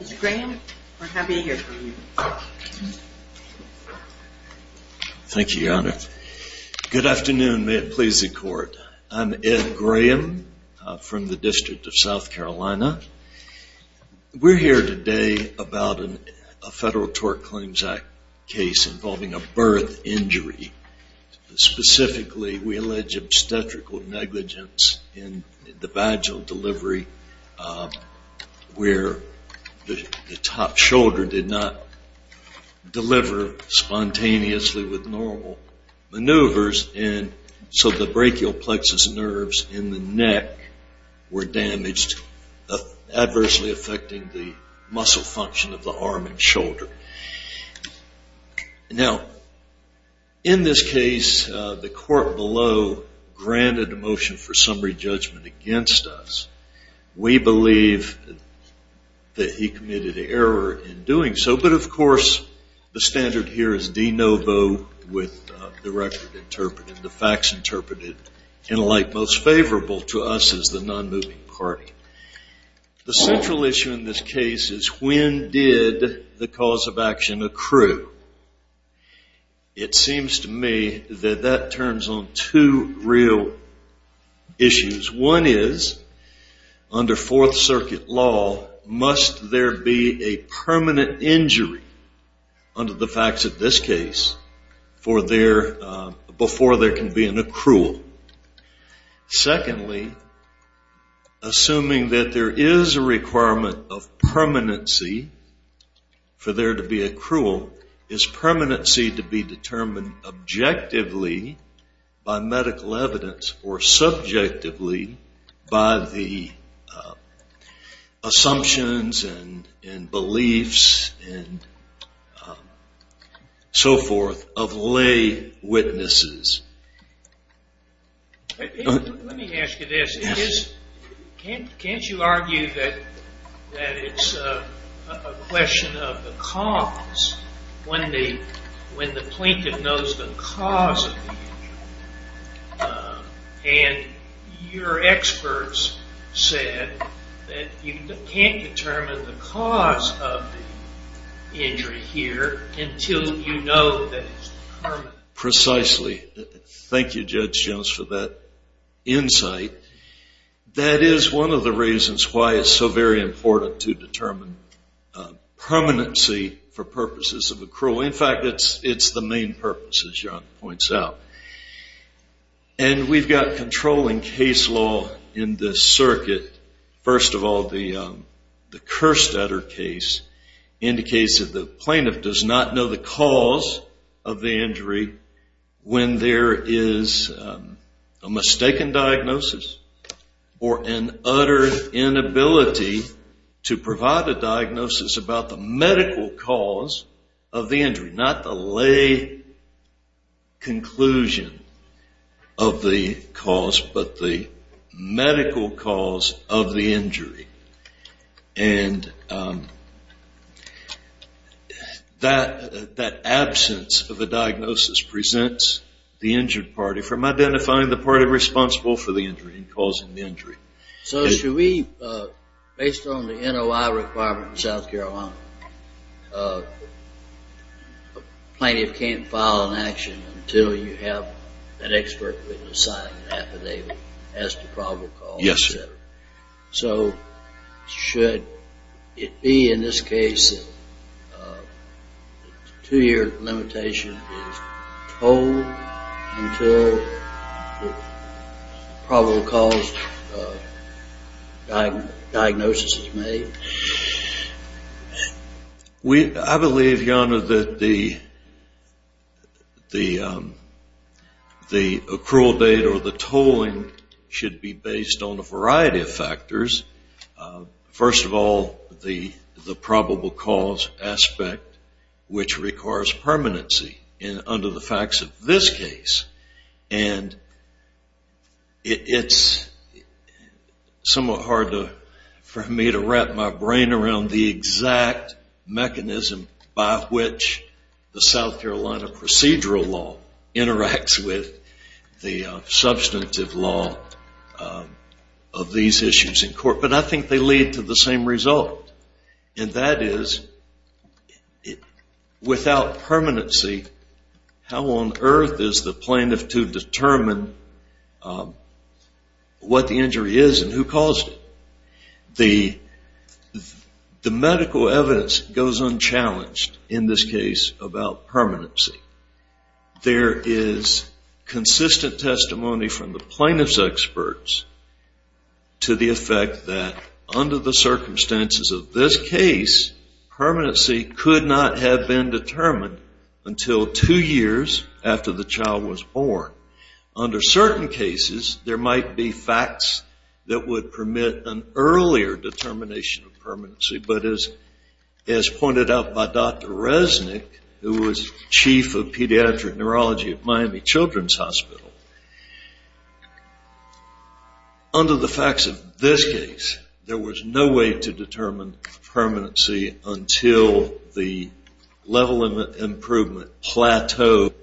Mr. Graham, we're happy to hear from you. Thank you, Your Honor. Good afternoon. May it please the Court. I'm Ed Graham from the District of South Carolina. We're here today about a Federal Tort Claims Act case involving a birth injury. Specifically, we allege obstetrical negligence in the vagal delivery where the top shoulder did not deliver spontaneously with normal maneuvers, and so the brachial plexus nerves in the neck were damaged, adversely affecting the muscle function of the arm and shoulder. Now, in this case, the court below granted a motion for summary judgment against us. We believe that he committed error in doing so, but of course, the standard here is de novo with the record interpreted, the facts interpreted, and like most favorable to us as the non-moving party. The central issue in this case is when did the cause of action accrue? It seems to me that that turns on two real issues. One is, under Fourth Circuit law, must there be a permanent injury under the facts of this case before there can be an accrual? Secondly, assuming that there is a requirement of permanency for there to be accrual, is permanency to be determined objectively by medical evidence or subjectively by the assumptions and beliefs and so forth of lay witnesses? Let me ask you this. Can't you argue that it's a question of the cause when the plaintiff knows the cause of the injury? And your experts said that you can't determine the cause of the injury here until you know that it's permanent. Precisely. Thank you, Judge Jones, for that insight. That is one of the reasons why it's so very important to determine permanency for purposes of accrual. In fact, it's the main purpose, as John points out. We've got controlling case law in this circuit. First of all, the cursed utter case indicates that the plaintiff does not know the cause of the injury when there is a mistaken diagnosis or an utter inability to provide a diagnosis about the medical cause of the injury, not the lay conclusion of the cause, but the medical cause of the injury. And that absence of a diagnosis presents the injured party from identifying the party responsible for the injury and causing the injury. So should we, based on the NOI requirement in South Carolina, a plaintiff can't file an action until you have an expert witness sign affidavit as to probable cause? Yes. So should it be, in this case, a two-year limitation is told until the probable cause diagnosis is made? I believe, Your Honor, that the accrual date or the tolling should be based on a variety of factors. First of all, the probable cause aspect, which requires permanency under the facts of this case. And it's somewhat hard for me to wrap my brain around the exact mechanism by which the South Carolina procedural law interacts with the substantive law of these issues in court. But I think they lead to the same result. And that is, without permanency, how on earth is the plaintiff to determine what the injury is and who caused it? The medical evidence goes unchallenged in this case about permanency. There is consistent testimony from the plaintiff's experts to the effect that, under the circumstances of this case, permanency could not have been determined until two years after the child was born. Under certain cases, there might be facts that would permit an earlier determination of permanency. But as pointed out by Dr. Resnick, who was chief of pediatric neurology at Miami Children's Hospital, under the facts of this case, there was no way to determine permanency until the level of improvement plateaued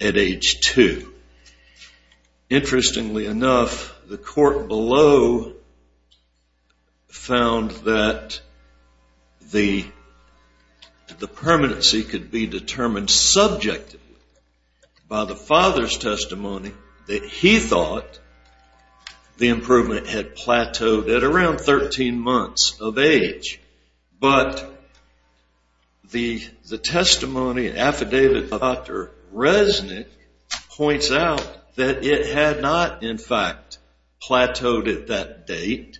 at age two. Interestingly enough, the court below found that the permanency could be determined subjectively by the father's testimony that he thought the improvement had plateaued at around 13 months of age. But the testimony affidavit of Dr. Resnick points out that it had not, in fact, plateaued at that date.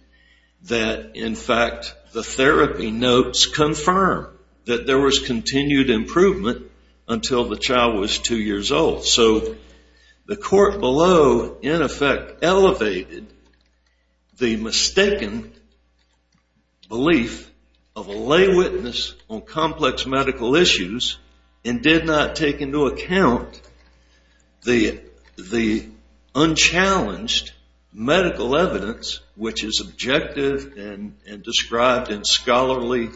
That, in fact, the therapy notes confirm that there was continued improvement until the child was two years old. So the court below, in effect, elevated the mistaken belief of a lay witness on complex medical issues and did not take into account the unchallenged medical evidence, which is objective and described in scholarly,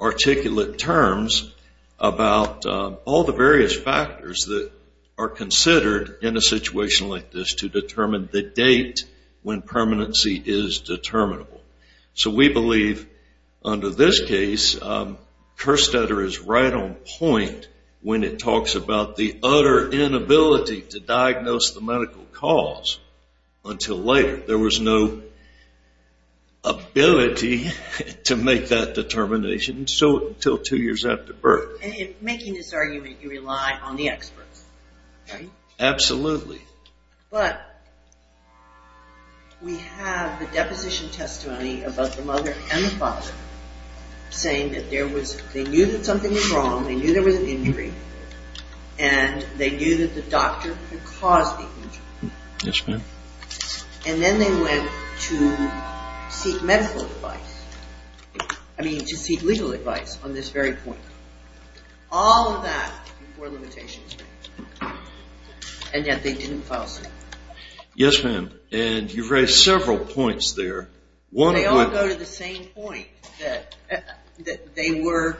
articulate terms about all the various factors that are considered in a situation like this to determine the date when permanency is determinable. So we believe under this case, Kerstetter is right on point when it talks about the utter inability to diagnose the medical cause until later. There was no ability to make that determination until two years after birth. And in making this argument, you rely on the experts, right? Absolutely. But we have the deposition testimony of both the mother and the father saying that there was, they knew that something was wrong, they knew there was an injury, and they knew that the doctor could cause the injury. Yes, ma'am. And then they went to seek medical advice. I mean, to seek legal advice on this very point. All of that were limitations. And yet they didn't file suit. Yes, ma'am. And you've raised several points there. They all go to the same point, that they were,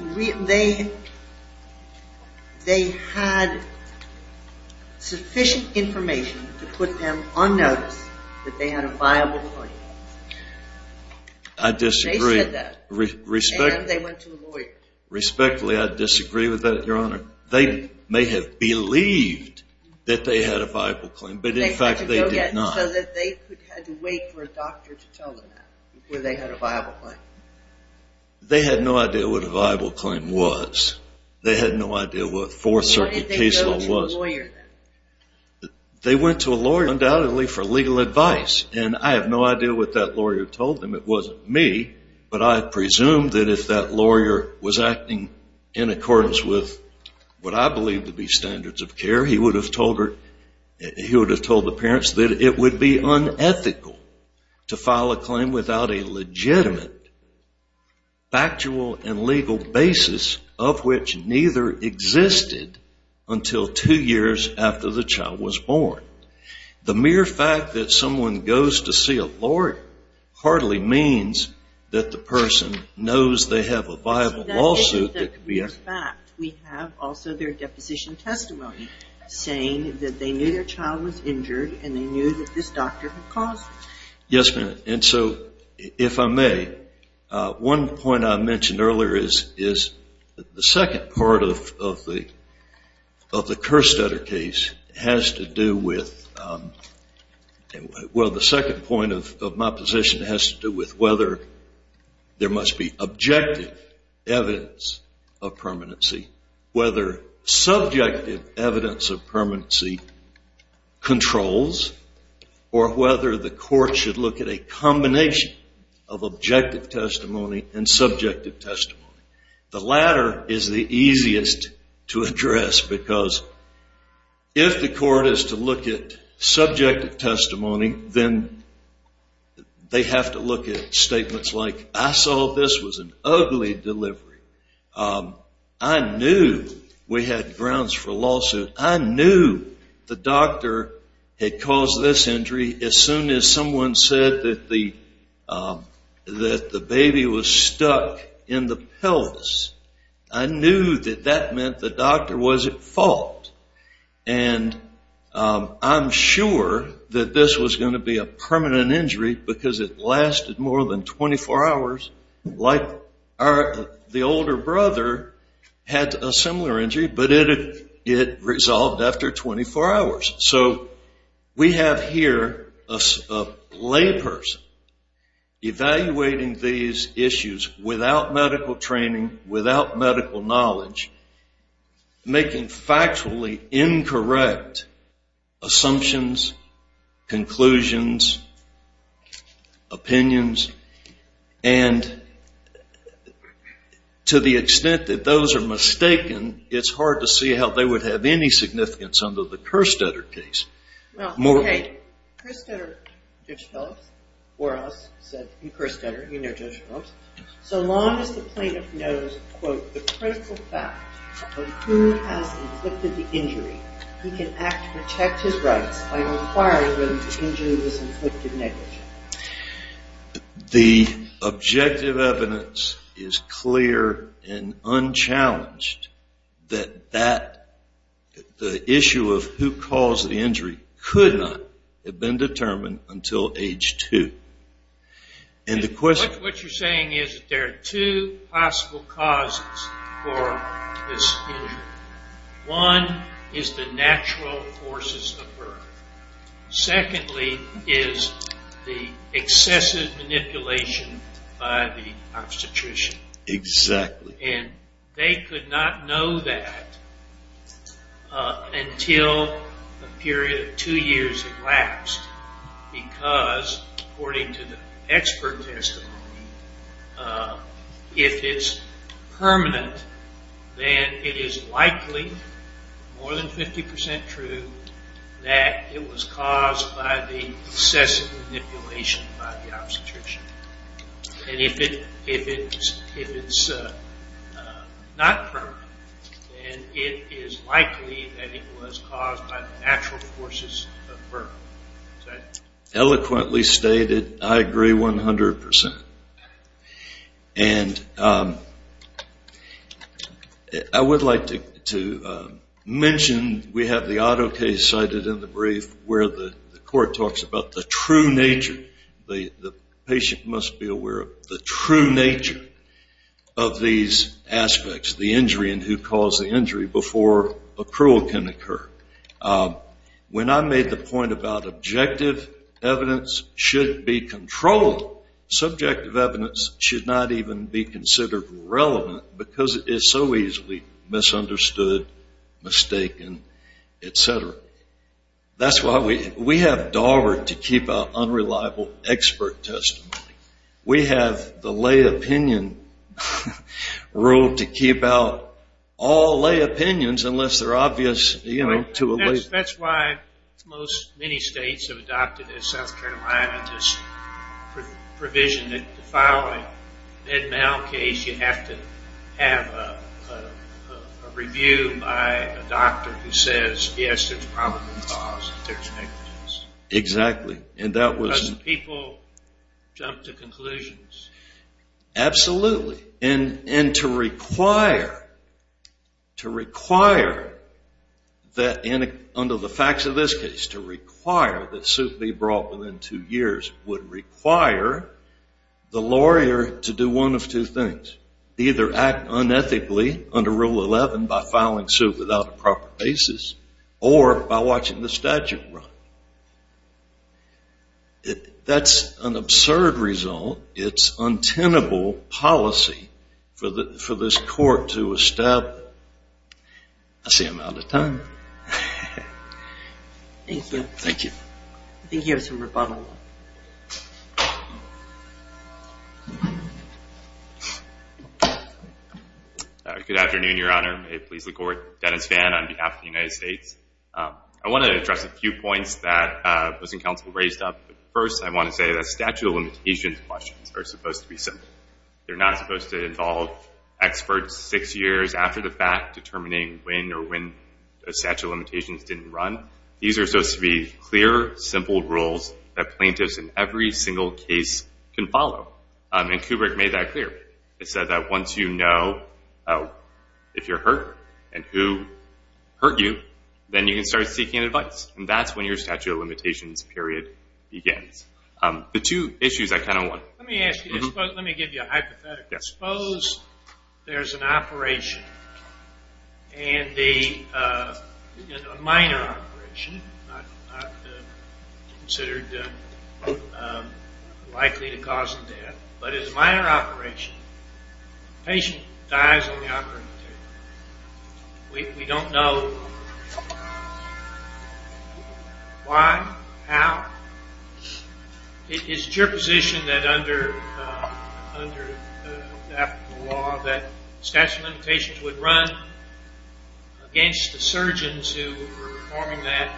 they had sufficient information to put them on notice that they had a viable claim. I disagree. And they went to a lawyer. Respectfully, I disagree with that, Your Honor. They may have believed that they had a viable claim, but in fact they did not. So that they had to wait for a doctor to tell them that, before they had a viable claim. They had no idea what a viable claim was. They had no idea what a Fourth Circuit case law was. Why did they go to a lawyer, then? They went to a lawyer, undoubtedly, for legal advice. And I have no idea what that lawyer told them. It wasn't me. But I presume that if that lawyer was acting in accordance with what I believe to be standards of care, he would have told her, he would have told the parents, that it would be unethical to file a claim without a legitimate factual and legal basis of which neither existed until two years after the child was born. The mere fact that someone goes to see a lawyer hardly means that the person knows they have a viable lawsuit that could be executed. We have also their deposition testimony saying that they knew their child was injured and they knew that this doctor had caused it. Yes, ma'am. And so, if I may, one point I mentioned earlier is that the second part of the Kerstetter case has to do with, well, the second point of my position has to do with whether there must be objective evidence of permanency, whether subjective evidence of permanency controls, or whether the court should look at a combination of objective testimony and subjective testimony. The latter is the easiest to address because if the court is to look at subjective testimony, then they have to look at statements like, I saw this was an ugly delivery. I knew we had grounds for a lawsuit. I knew the doctor had caused this injury as soon as someone said that the baby was stuck in the pelvis. I knew that that meant the doctor was at fault. And I'm sure that this was going to be a permanent injury because it lasted more than 24 hours, like the older brother had a similar injury, but it resolved after 24 hours. So, we have here a layperson evaluating these issues without medical training, without medical knowledge, making factually incorrect assumptions, conclusions, opinions, and to the extent that those are mistaken, it's hard to see how they would have any significance under the Kerstetter case. Well, hey, Kerstetter, Judge Phillips, or us, said, you Kerstetter, you know Judge Phillips, so long as the plaintiff knows, quote, the critical fact of who has inflicted the injury, he can act to protect his rights by inquiring whether the injury was inflicted negligently. The objective evidence is clear and unchallenged that the issue of who caused the injury could not have been determined until age two. What you're saying is that there are two possible causes for this injury. One is the natural forces of birth. Secondly is the excessive manipulation by the obstetrician. And they could not know that until a period of two years had elapsed because, according to the expert testimony, if it's permanent, then it is likely, more than 50% true, that it was caused by the excessive manipulation by the obstetrician. And if it's not permanent, then it is likely that it was caused by the natural forces of birth. Eloquently stated, I agree 100%. And I would like to mention, we have the auto case cited in the brief where the court talks about the true nature, the patient must be aware of the true nature of these aspects, the injury and who caused the injury before accrual can occur. When I made the point about objective evidence should be controlled, subjective evidence should not even be considered relevant because it is so easily misunderstood, mistaken, etc. That's why we have Dahlberg to keep out unreliable expert testimony. We have the lay opinion rule to keep out all lay opinions unless they're obvious to a lay... That's why many states have adopted in South Carolina this provision that to file an Ed Mahal case, you have to have a review by a doctor who says, yes, there's probably a cause, there's negligence. Exactly. And that was... People jump to conclusions. Absolutely. And to require, to require that under the facts of this case, to require that suit be brought within two years would require the lawyer to do one of two things. Either act unethically under Rule 11 by filing suit without a proper basis or by watching the statute run. That's an absurd result. It's untenable policy for this court to establish. I see I'm out of time. Thank you. Thank you. I think you have some rebuttal. Good afternoon, Your Honor. May it please the Court. Dennis Fan on behalf of the United States. I want to address a few points that was in council raised up. First, I want to say that statute of limitations questions are supposed to be simple. They're not supposed to involve experts six years after the fact determining when or when the statute of limitations didn't run. These are supposed to be clear, simple rules that plaintiffs in every single case can follow. And Kubrick made that clear. He said that once you know if you're hurt and who hurt you, then you can start seeking advice. And that's when your statute of limitations period begins. The two issues I kind of want... Let me ask you. Let me give you a hypothetical. Suppose there's an operation and a minor operation, not considered likely to cause death. But it's a minor operation. The patient dies on the operating table. We don't know why, how. Is it your position that under African law that statute of limitations would run against the surgeons who were performing that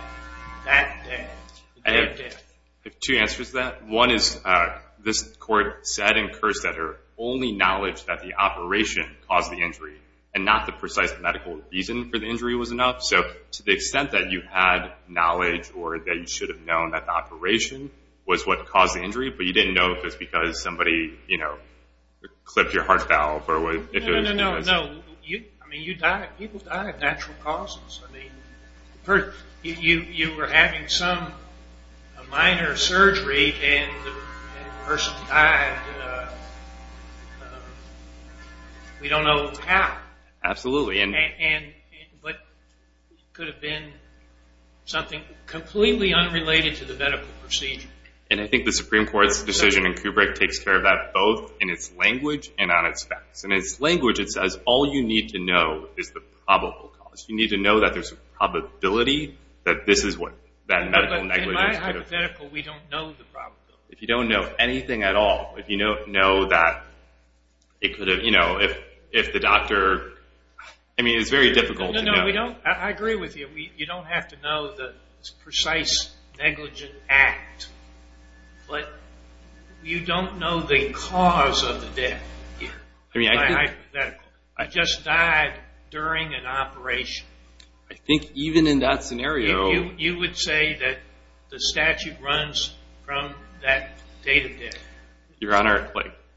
death? I have two answers to that. One is this Court said and cursed that her only knowledge that the operation caused the injury and not the precise medical reason for the injury was enough. So to the extent that you had knowledge or that you should have known that the operation was what caused the injury, but you didn't know if it was because somebody clipped your heart valve or if it was... No, no, no. People die at natural causes. You were having some minor surgery and the person died. We don't know how. Absolutely. But it could have been something completely unrelated to the medical procedure. And I think the Supreme Court's decision in Kubrick takes care of that both in its language and on its facts. In its language it says all you need to know is the probable cause. You need to know that there's a probability that this is what that medical negligence could have... But in my hypothetical we don't know the probability. If you don't know anything at all, if you don't know that it could have... If the doctor... I mean, it's very difficult to know. No, no. I agree with you. You don't have to know the precise negligent act, but you don't know the cause of the death here. I mean, I think... You just died during an operation. I think even in that scenario... You would say that the statute runs from that date of death. Your Honor,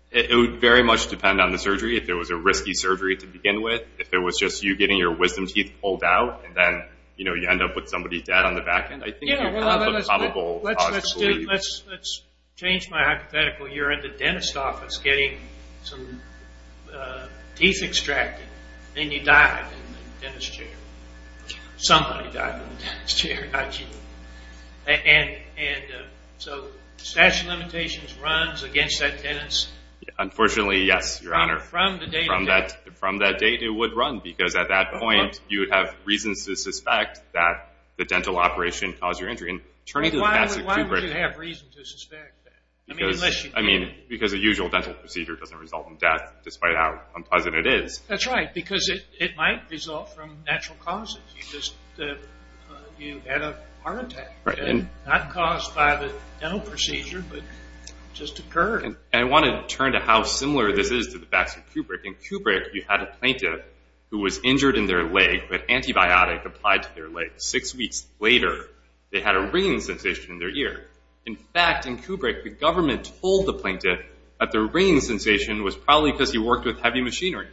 it would very much depend on the surgery. If it was a risky surgery to begin with. If it was just you getting your wisdom teeth pulled out and then you end up with somebody dead on the back end. I think you have a probable... Let's change my hypothetical. You're at the dentist's office getting some teeth extracted. Then you die in the dentist's chair. Somebody died in the dentist's chair, not you. And so statute of limitations runs against that dentist's... Unfortunately, yes, Your Honor. From the date of death. From that date, it would run. Because at that point, you would have reasons to suspect that the dental operation caused your injury. Why would you have reason to suspect that? I mean, because a usual dental procedure doesn't result in death, despite how unpleasant it is. That's right, because it might result from natural causes. You had a heart attack. Not caused by the dental procedure, but just occurred. I want to turn to how similar this is to the vaccine Kubrick. In Kubrick, you had a plaintiff who was injured in their leg, but antibiotic applied to their leg. Six weeks later, they had a ringing sensation in their ear. In fact, in Kubrick, the government told the plaintiff that the ringing sensation was probably because he worked with heavy machinery.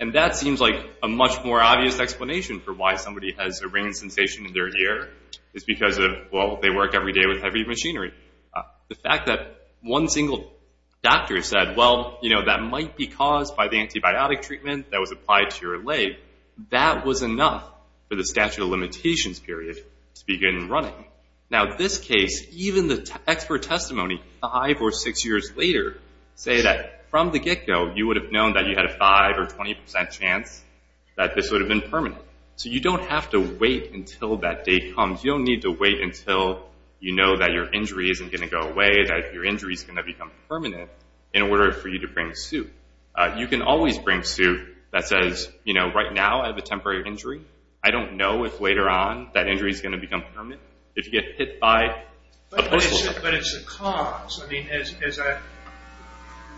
And that seems like a much more obvious explanation for why somebody has a ringing sensation in their ear. It's because, well, they work every day with heavy machinery. The fact that one single doctor said, well, you know, that might be caused by the antibiotic treatment that was applied to your leg. That was enough for the statute of limitations period to begin running. Now, this case, even the expert testimony, five or six years later, say that from the get-go, you would have known that you had a 5% or 20% chance that this would have been permanent. So you don't have to wait until that day comes. You don't need to wait until you know that your injury isn't going to go away, that your injury is going to become permanent, in order for you to bring suit. You can always bring suit that says, you know, right now I have a temporary injury. I don't know if later on that injury is going to become permanent, if you get hit by a postal train. But it's a cause. I mean, as I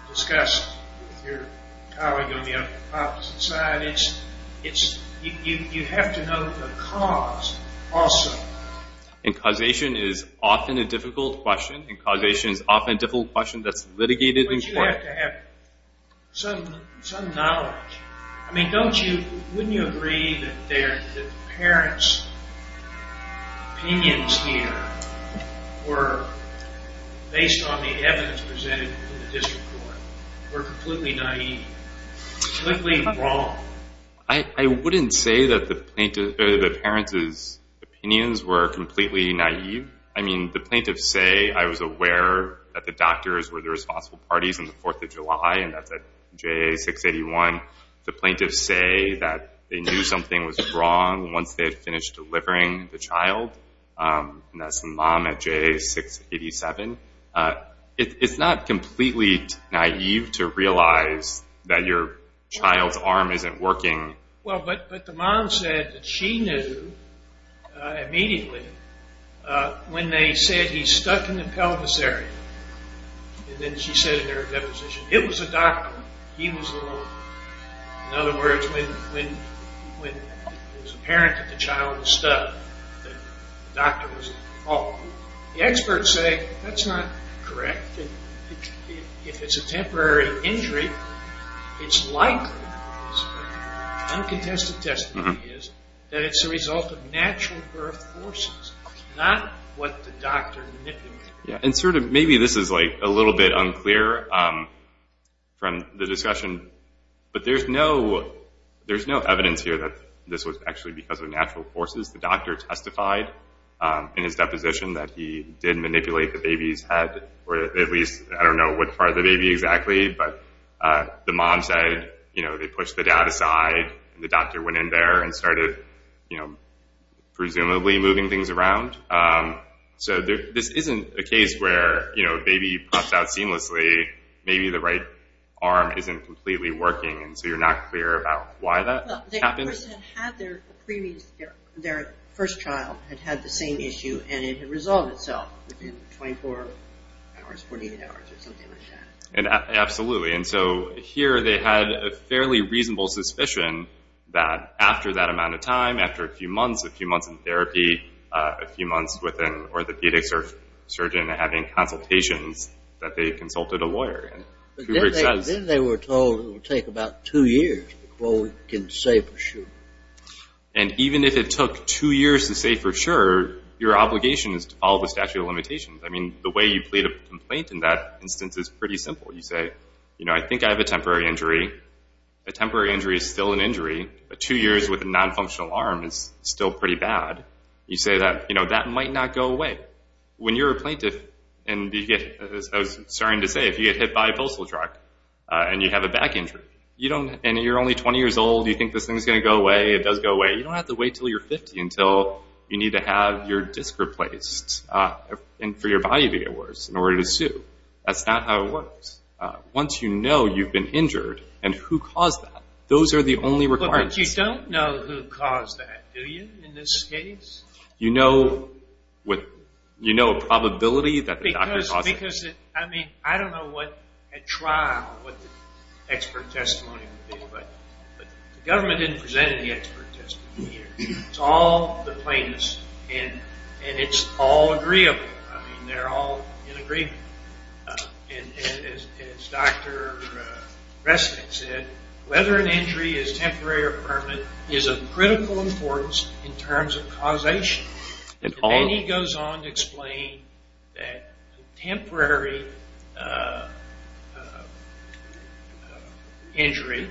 discussed with your colleague on the opposite side, you have to know the cause also. And causation is often a difficult question. And causation is often a difficult question that's litigated in court. But you have to have some knowledge. I mean, wouldn't you agree that the parents' opinions here were, based on the evidence presented in the district court, were completely naive, completely wrong? I wouldn't say that the parents' opinions were completely naive. I mean, the plaintiffs say, I was aware that the doctors were the responsible parties on the 4th of July, and that's at JA 681. The plaintiffs say that they knew something was wrong once they had finished delivering the child. And that's the mom at JA 687. It's not completely naive to realize that your child's arm isn't working. Well, but the mom said that she knew immediately when they said he's stuck in the pelvis area. And then she said in her deposition, it was the doctor. He was the one. In other words, when it was apparent that the child was stuck, the doctor was at fault. The experts say that's not correct. If it's a temporary injury, it's likely, uncontested testimony is, that it's a result of natural birth forces, not what the doctor manipulated. And sort of, maybe this is a little bit unclear from the discussion, but there's no evidence here that this was actually because of natural forces. The doctor testified in his deposition that he did manipulate the baby's head, or at least, I don't know what part of the baby exactly. But the mom said, you know, they pushed the dad aside. The doctor went in there and started, you know, presumably moving things around. So this isn't a case where, you know, baby pops out seamlessly. Maybe the right arm isn't completely working. And so you're not clear about why that happens. Their first child had had the same issue, and it had resolved itself within 24 hours, 48 hours, or something like that. Absolutely. And so here they had a fairly reasonable suspicion that after that amount of time, after a few months, a few months in therapy, a few months with an orthopedic surgeon having consultations, that they consulted a lawyer. Then they were told it would take about two years before we can say for sure. And even if it took two years to say for sure, your obligation is to follow the statute of limitations. I mean, the way you plead a complaint in that instance is pretty simple. You say, you know, I think I have a temporary injury. A temporary injury is still an injury, but two years with a nonfunctional arm is still pretty bad. You say that, you know, that might not go away. When you're a plaintiff and you get, as I was starting to say, if you get hit by a postal truck and you have a back injury, and you're only 20 years old, you think this thing's going to go away, it does go away, you don't have to wait until you're 50 until you need to have your disc replaced for your body to get worse in order to sue. That's not how it works. Once you know you've been injured and who caused that, those are the only requirements. But you don't know who caused that, do you, in this case? You know a probability that the doctor caused it? Because, I mean, I don't know at trial what the expert testimony would be, but the government didn't present any expert testimony here. It's all the plaintiffs, and it's all agreeable. I mean, they're all in agreement. And as Dr. Resnick said, whether an injury is temporary or permanent is of critical importance in terms of causation. And then he goes on to explain that temporary injury,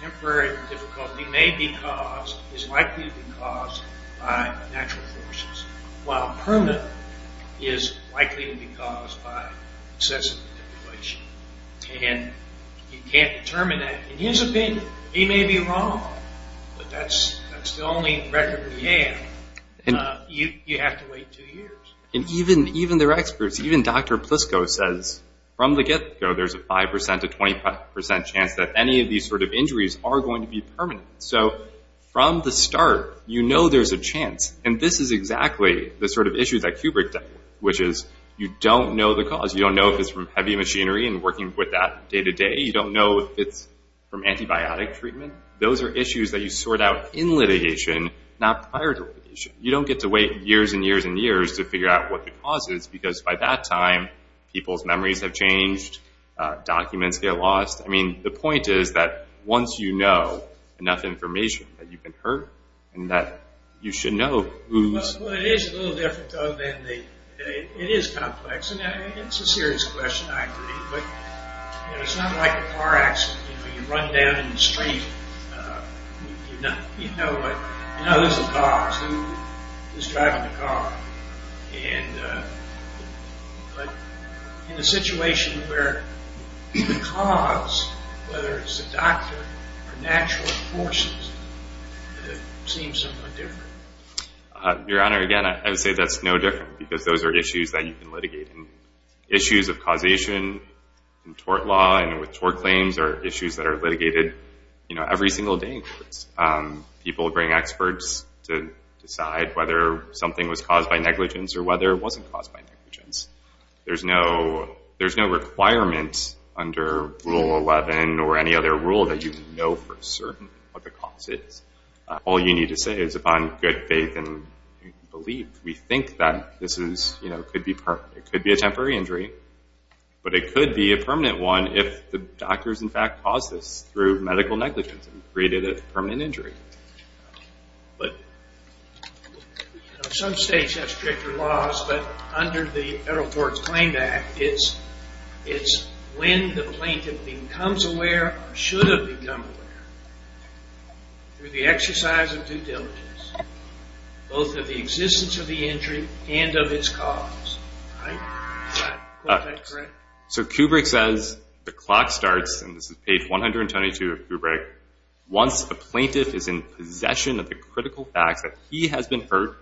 temporary difficulty, may be caused, is likely to be caused by natural forces, while permanent is likely to be caused by excessive manipulation. And you can't determine that. In his opinion, he may be wrong, but that's the only record we have. You have to wait two years. And even their experts, even Dr. Plisko says, from the get-go, there's a 5% to 20% chance that any of these sort of injuries are going to be permanent. So from the start, you know there's a chance. And this is exactly the sort of issue that Kubrick dealt with, which is you don't know the cause. You don't know if it's from heavy machinery and working with that day to day. You don't know if it's from antibiotic treatment. Those are issues that you sort out in litigation, not prior to litigation. You don't get to wait years and years and years to figure out what the cause is, because by that time, people's memories have changed, documents get lost. I mean, the point is that once you know enough information that you can hurt and that you should know who's... Well, it is a little different, though, than the... It is complex, and it's a serious question, I agree. But it's not like a car accident. You run down in the street. You know who's driving the car. And in a situation where the cause, whether it's the doctor or natural forces, it seems somewhat different. Your Honor, again, I would say that's no different, because those are issues that you can litigate. And issues of causation in tort law and with tort claims are issues that are litigated every single day. People bring experts to decide whether something was caused by negligence or whether it wasn't caused by negligence. There's no requirement under Rule 11 or any other rule that you know for certain what the cause is. All you need to say is, upon good faith and belief, we think that this is... It could be a temporary injury, but it could be a permanent one if the doctors, in fact, caused this through medical negligence and created a permanent injury. Some states have stricter laws, but under the Federal Courts Claim Act, it's when the plaintiff becomes aware or should have become aware through the exercise of due diligence, both of the existence of the injury and of its cause. Is that correct? So Kubrick says, the clock starts, and this is page 122 of Kubrick, once a plaintiff is in possession of the critical facts that he has been hurt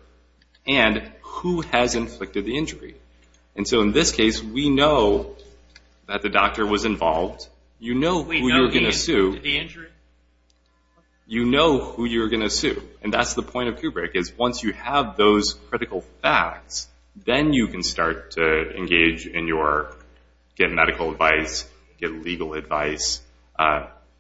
and who has inflicted the injury. And so in this case, we know that the doctor was involved. You know who you're going to sue. We know he inflicted the injury. You know who you're going to sue. And that's the point of Kubrick, is once you have those critical facts, then you can start to engage in your get medical advice, get legal advice,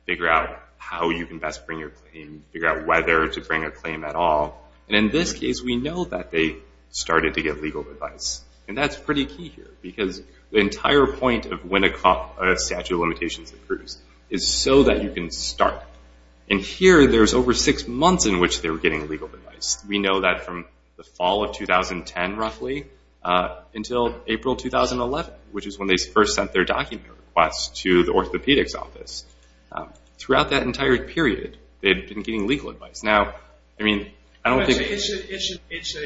figure out how you can best bring your claim, figure out whether to bring a claim at all. And in this case, we know that they started to get legal advice. And that's pretty key here because the entire point of when a statute of limitations approves is so that you can start. And here, there's over six months in which they were getting legal advice. We know that from the fall of 2010, roughly, until April 2011, which is when they first sent their document request to the orthopedic's office. Throughout that entire period, they had been getting legal advice. Now, I mean, I don't think... It's an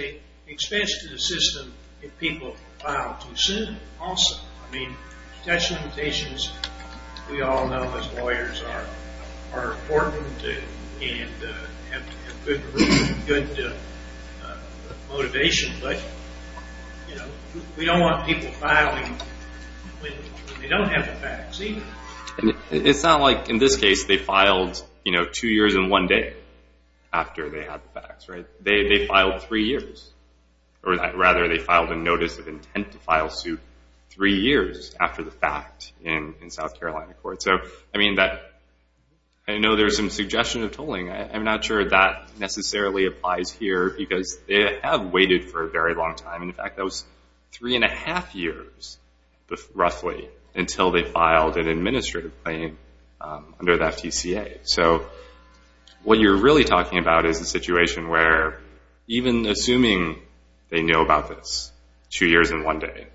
expense to the system if people file too soon, also. I mean, protection limitations, we all know as lawyers, are important and have good motivation. But, you know, we don't want people filing when they don't have the facts, either. It's not like, in this case, they filed, you know, two years and one day after they had the facts, right? They filed three years. Or rather, they filed a notice of intent to file suit three years after the fact in South Carolina court. So, I mean, I know there's some suggestion of tolling. I'm not sure that necessarily applies here because they have waited for a very long time. In fact, that was three and a half years, roughly, until they filed an administrative claim under the FTCA. So, what you're really talking about is a situation where, even assuming they know about this two years and one day,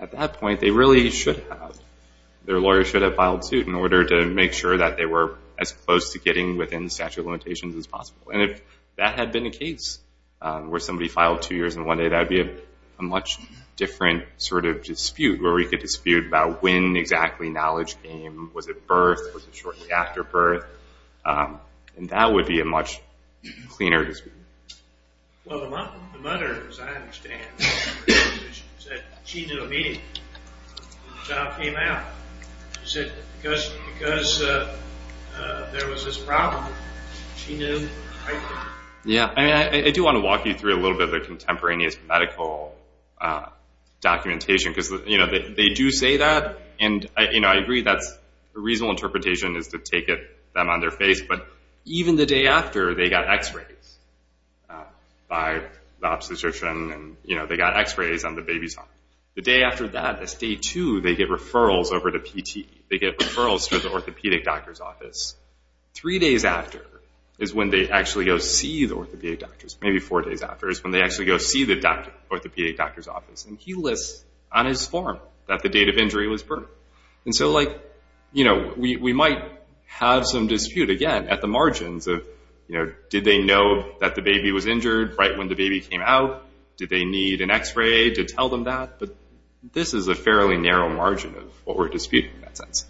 at that point, they really should have. Their lawyer should have filed suit in order to make sure that they were as close to getting within the statute of limitations as possible. And if that had been the case, where somebody filed two years and one day, that would be a much different sort of dispute, where we could dispute about when exactly knowledge came. Was it birth? Was it shortly after birth? And that would be a much cleaner dispute. Well, the mother, as I understand, said she knew immediately when the child came out. She said because there was this problem, she knew right away. I do want to walk you through a little bit of the contemporaneous medical documentation because they do say that. And I agree that a reasonable interpretation is to take them on their face, but even the day after they got x-rays by the obstetrician, and they got x-rays on the baby's arm, the day after that, that's day two, they get referrals over to PT. They get referrals to the orthopedic doctor's office. Three days after is when they actually go see the orthopedic doctors. Maybe four days after is when they actually go see the orthopedic doctor's office. And he lists on his form that the date of injury was birth. And so we might have some dispute, again, at the margins of, did they know that the baby was injured right when the baby came out? Did they need an x-ray to tell them that? But this is a fairly narrow margin of what we're disputing in that sense.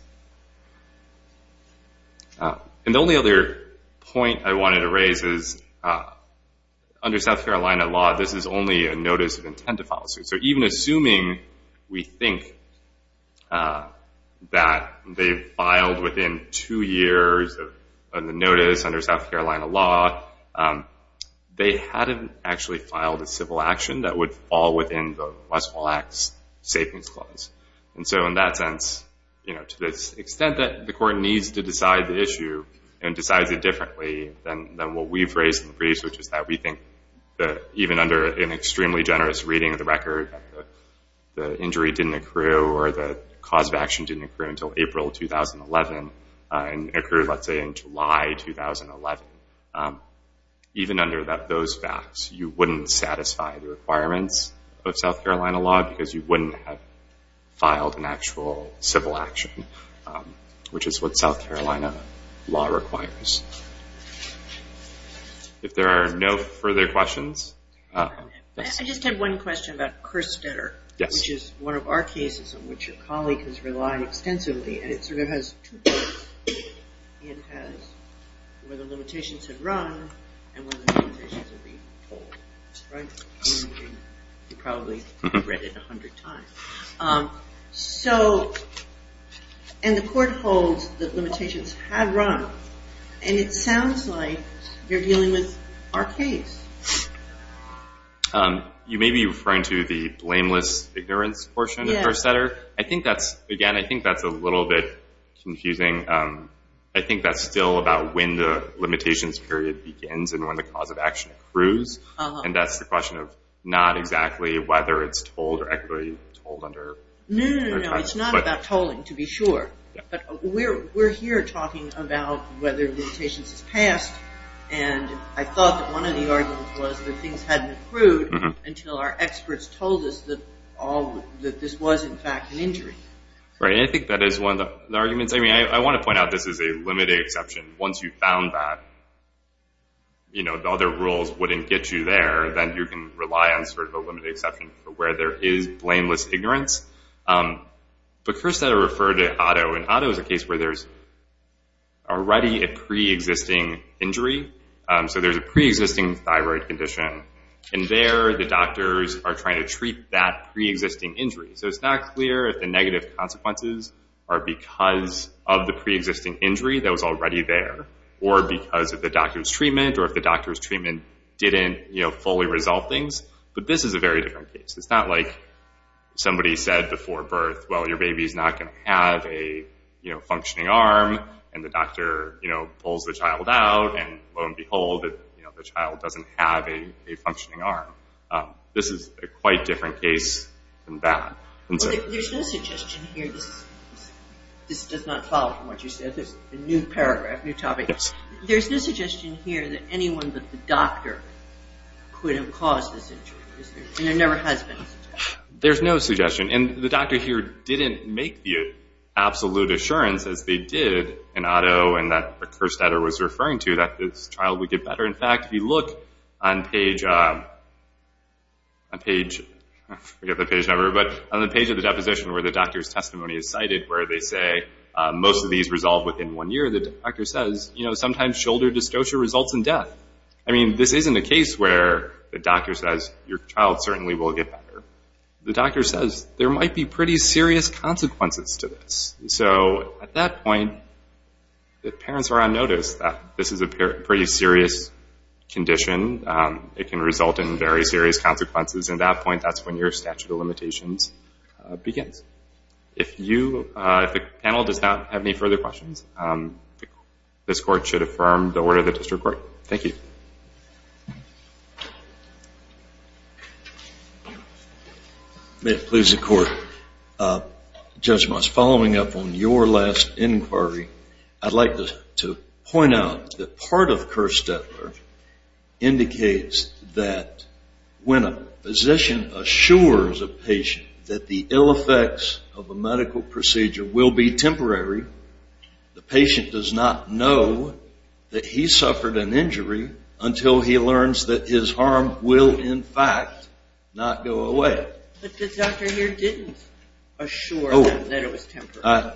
And the only other point I wanted to raise is under South Carolina law, this is only a notice of intent to file a suit. So even assuming we think that they filed within two years of the notice under South Carolina law, they hadn't actually filed a civil action that would fall within the Westfall Act's savings clause. And so in that sense, to the extent that the court needs to decide the issue and decides it differently than what we've raised in the briefs, which is that we think that even under an extremely generous reading of the record, the injury didn't accrue or the cause of action didn't accrue until April 2011 and accrued, let's say, in July 2011. Even under those facts, you wouldn't satisfy the requirements of South Carolina law because you wouldn't have filed an actual civil action, which is what South Carolina law requires. If there are no further questions. I just have one question about Kerstetter, which is one of our cases in which a colleague has relied extensively. And it sort of has two parts. It has where the limitations have run and where the limitations have been told. You've probably read it a hundred times. And the court holds that limitations have run. And it sounds like you're dealing with our case. You may be referring to the blameless ignorance portion of Kerstetter. Again, I think that's a little bit confusing. I think that's still about when the limitations period begins and when the cause of action accrues. And that's the question of not exactly whether it's told or accurately told. No, no, no, no. It's not about tolling, to be sure. But we're here talking about whether limitations have passed. And I thought that one of the arguments was that things hadn't accrued until our experts told us that this was, in fact, an injury. Right, and I think that is one of the arguments. I mean, I want to point out this is a limited exception. And once you've found that, the other rules wouldn't get you there. Then you can rely on sort of a limited exception for where there is blameless ignorance. But Kerstetter referred to Otto. And Otto is a case where there's already a preexisting injury. So there's a preexisting thyroid condition. And there the doctors are trying to treat that preexisting injury. So it's not clear if the negative consequences are because of the preexisting injury that was already there or because of the doctor's treatment or if the doctor's treatment didn't fully resolve things. But this is a very different case. It's not like somebody said before birth, well, your baby's not going to have a functioning arm. And the doctor pulls the child out. And lo and behold, the child doesn't have a functioning arm. This is a quite different case than that. There's no suggestion here. This does not follow from what you said. This is a new paragraph, new topic. There's no suggestion here that anyone but the doctor could have caused this injury. And there never has been a suggestion. There's no suggestion. And the doctor here didn't make the absolute assurance, as they did in Otto, and that Kerstetter was referring to, that this child would get better. In fact, if you look on page, I forget the page number, where they say most of these resolve within one year, the doctor says sometimes shoulder dystocia results in death. I mean, this isn't a case where the doctor says your child certainly will get better. The doctor says there might be pretty serious consequences to this. So at that point, if parents are on notice that this is a pretty serious condition, it can result in very serious consequences. At that point, that's when your statute of limitations begins. If the panel does not have any further questions, this Court should affirm the order of the district court. Thank you. May it please the Court. Judge Moss, following up on your last inquiry, I'd like to point out that part of Kerstetter indicates that when a physician assures a patient that the ill effects of a medical procedure will be temporary, the patient does not know that he suffered an injury until he learns that his harm will, in fact, not go away. But the doctor here didn't assure them that it was temporary.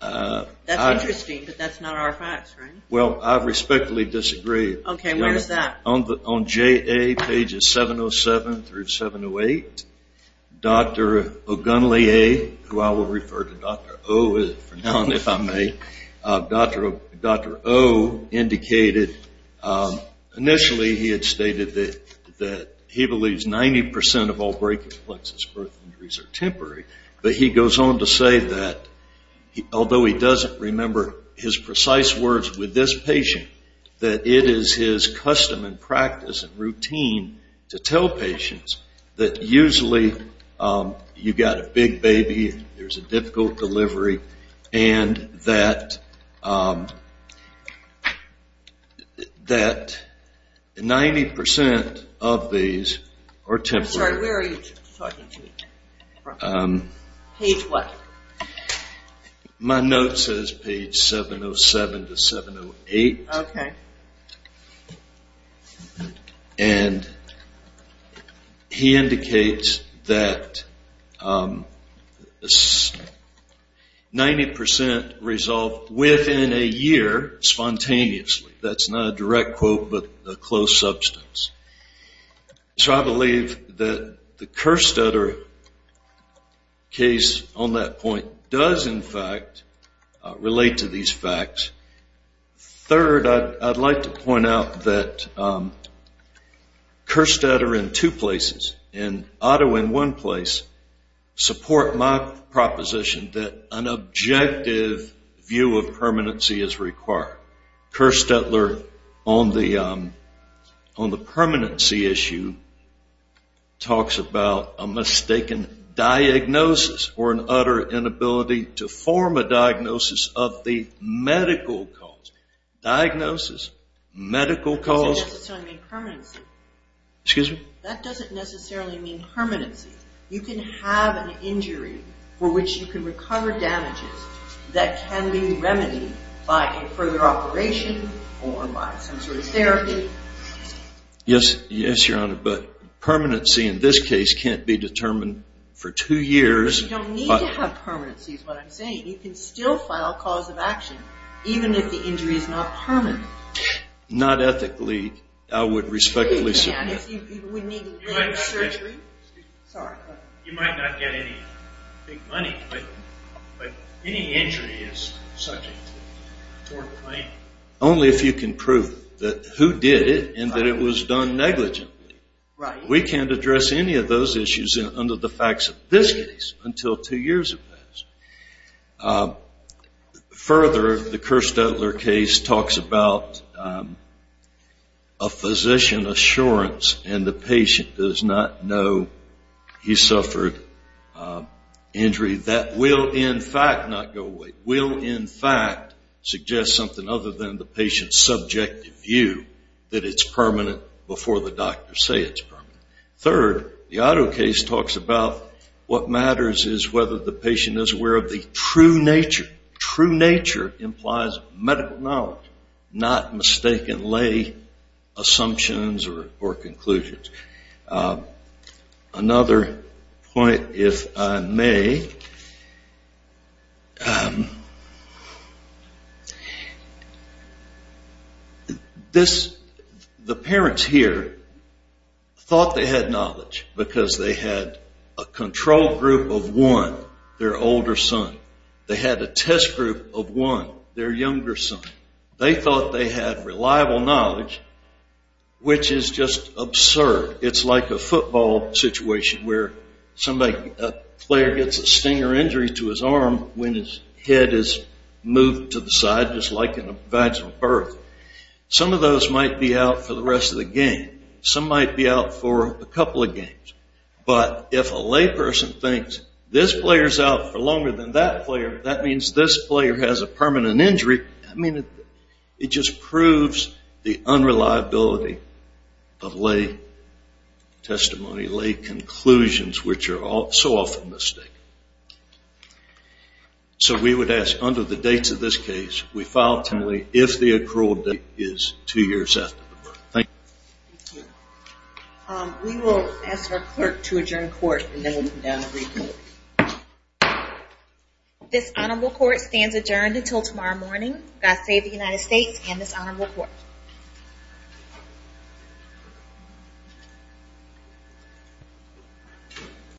That's interesting, but that's not our facts, right? Well, I respectfully disagree. Okay, where is that? On JA pages 707 through 708, Dr. Ogunleye, who I will refer to Dr. O from now on if I may, Dr. O indicated initially he had stated that he believes 90% of all brachial plexus birth injuries are temporary. But he goes on to say that although he doesn't remember his precise words with this patient, that it is his custom and practice and routine to tell patients that usually you've got a big baby, there's a difficult delivery, and that 90% of these are temporary. I'm sorry, where are you talking to me from? Page what? My note says page 707 to 708. Okay. And he indicates that 90% resolve within a year spontaneously. That's not a direct quote, but a close substance. So I believe that the Kerstetter case on that point does, in fact, relate to these facts. Third, I'd like to point out that Kerstetter in two places and Otto in one place support my proposition that an objective view of permanency is required. Kerstetter on the permanency issue talks about a mistaken diagnosis or an utter inability to form a diagnosis of the medical cause. Diagnosis, medical cause. That doesn't necessarily mean permanency. You can have an injury for which you can recover damages that can be remedied by a further operation or by some sort of therapy. Yes, Your Honor, but permanency in this case can't be determined for two years. You don't need to have permanency is what I'm saying. You can still file a cause of action even if the injury is not permanent. Not ethically, I would respectfully submit. You might not get any big money, but any injury is subject to court claim. Only if you can prove that who did it and that it was done negligently. We can't address any of those issues under the facts of this case until two years have passed. Further, the Kerstetter case talks about a physician assurance and the patient does not know he suffered an injury that will in fact not go away, will in fact suggest something other than the patient's subjective view that it's permanent before the doctors say it's permanent. Third, the Otto case talks about what matters is whether the patient is aware of the true nature. True nature implies medical knowledge, not mistakenly assumptions or conclusions. Another point, if I may. The parents here thought they had knowledge because they had a control group of one, their older son. They had a test group of one, their younger son. They thought they had reliable knowledge, which is just absurd. It's like a football situation where a player gets a sting or injury to his arm when his head is moved to the side, just like in a vaginal birth. Some of those might be out for the rest of the game. Some might be out for a couple of games. But if a layperson thinks this player's out for longer than that player, that means this player has a permanent injury. I mean, it just proves the unreliability of lay testimony, lay conclusions, which are so often mistaken. So we would ask under the dates of this case, we file timely if the accrual date is two years after the birth. Thank you. We will ask our clerk to adjourn court and then we'll move down to briefing. This honorable court stands adjourned until tomorrow morning. God save the United States and this honorable court.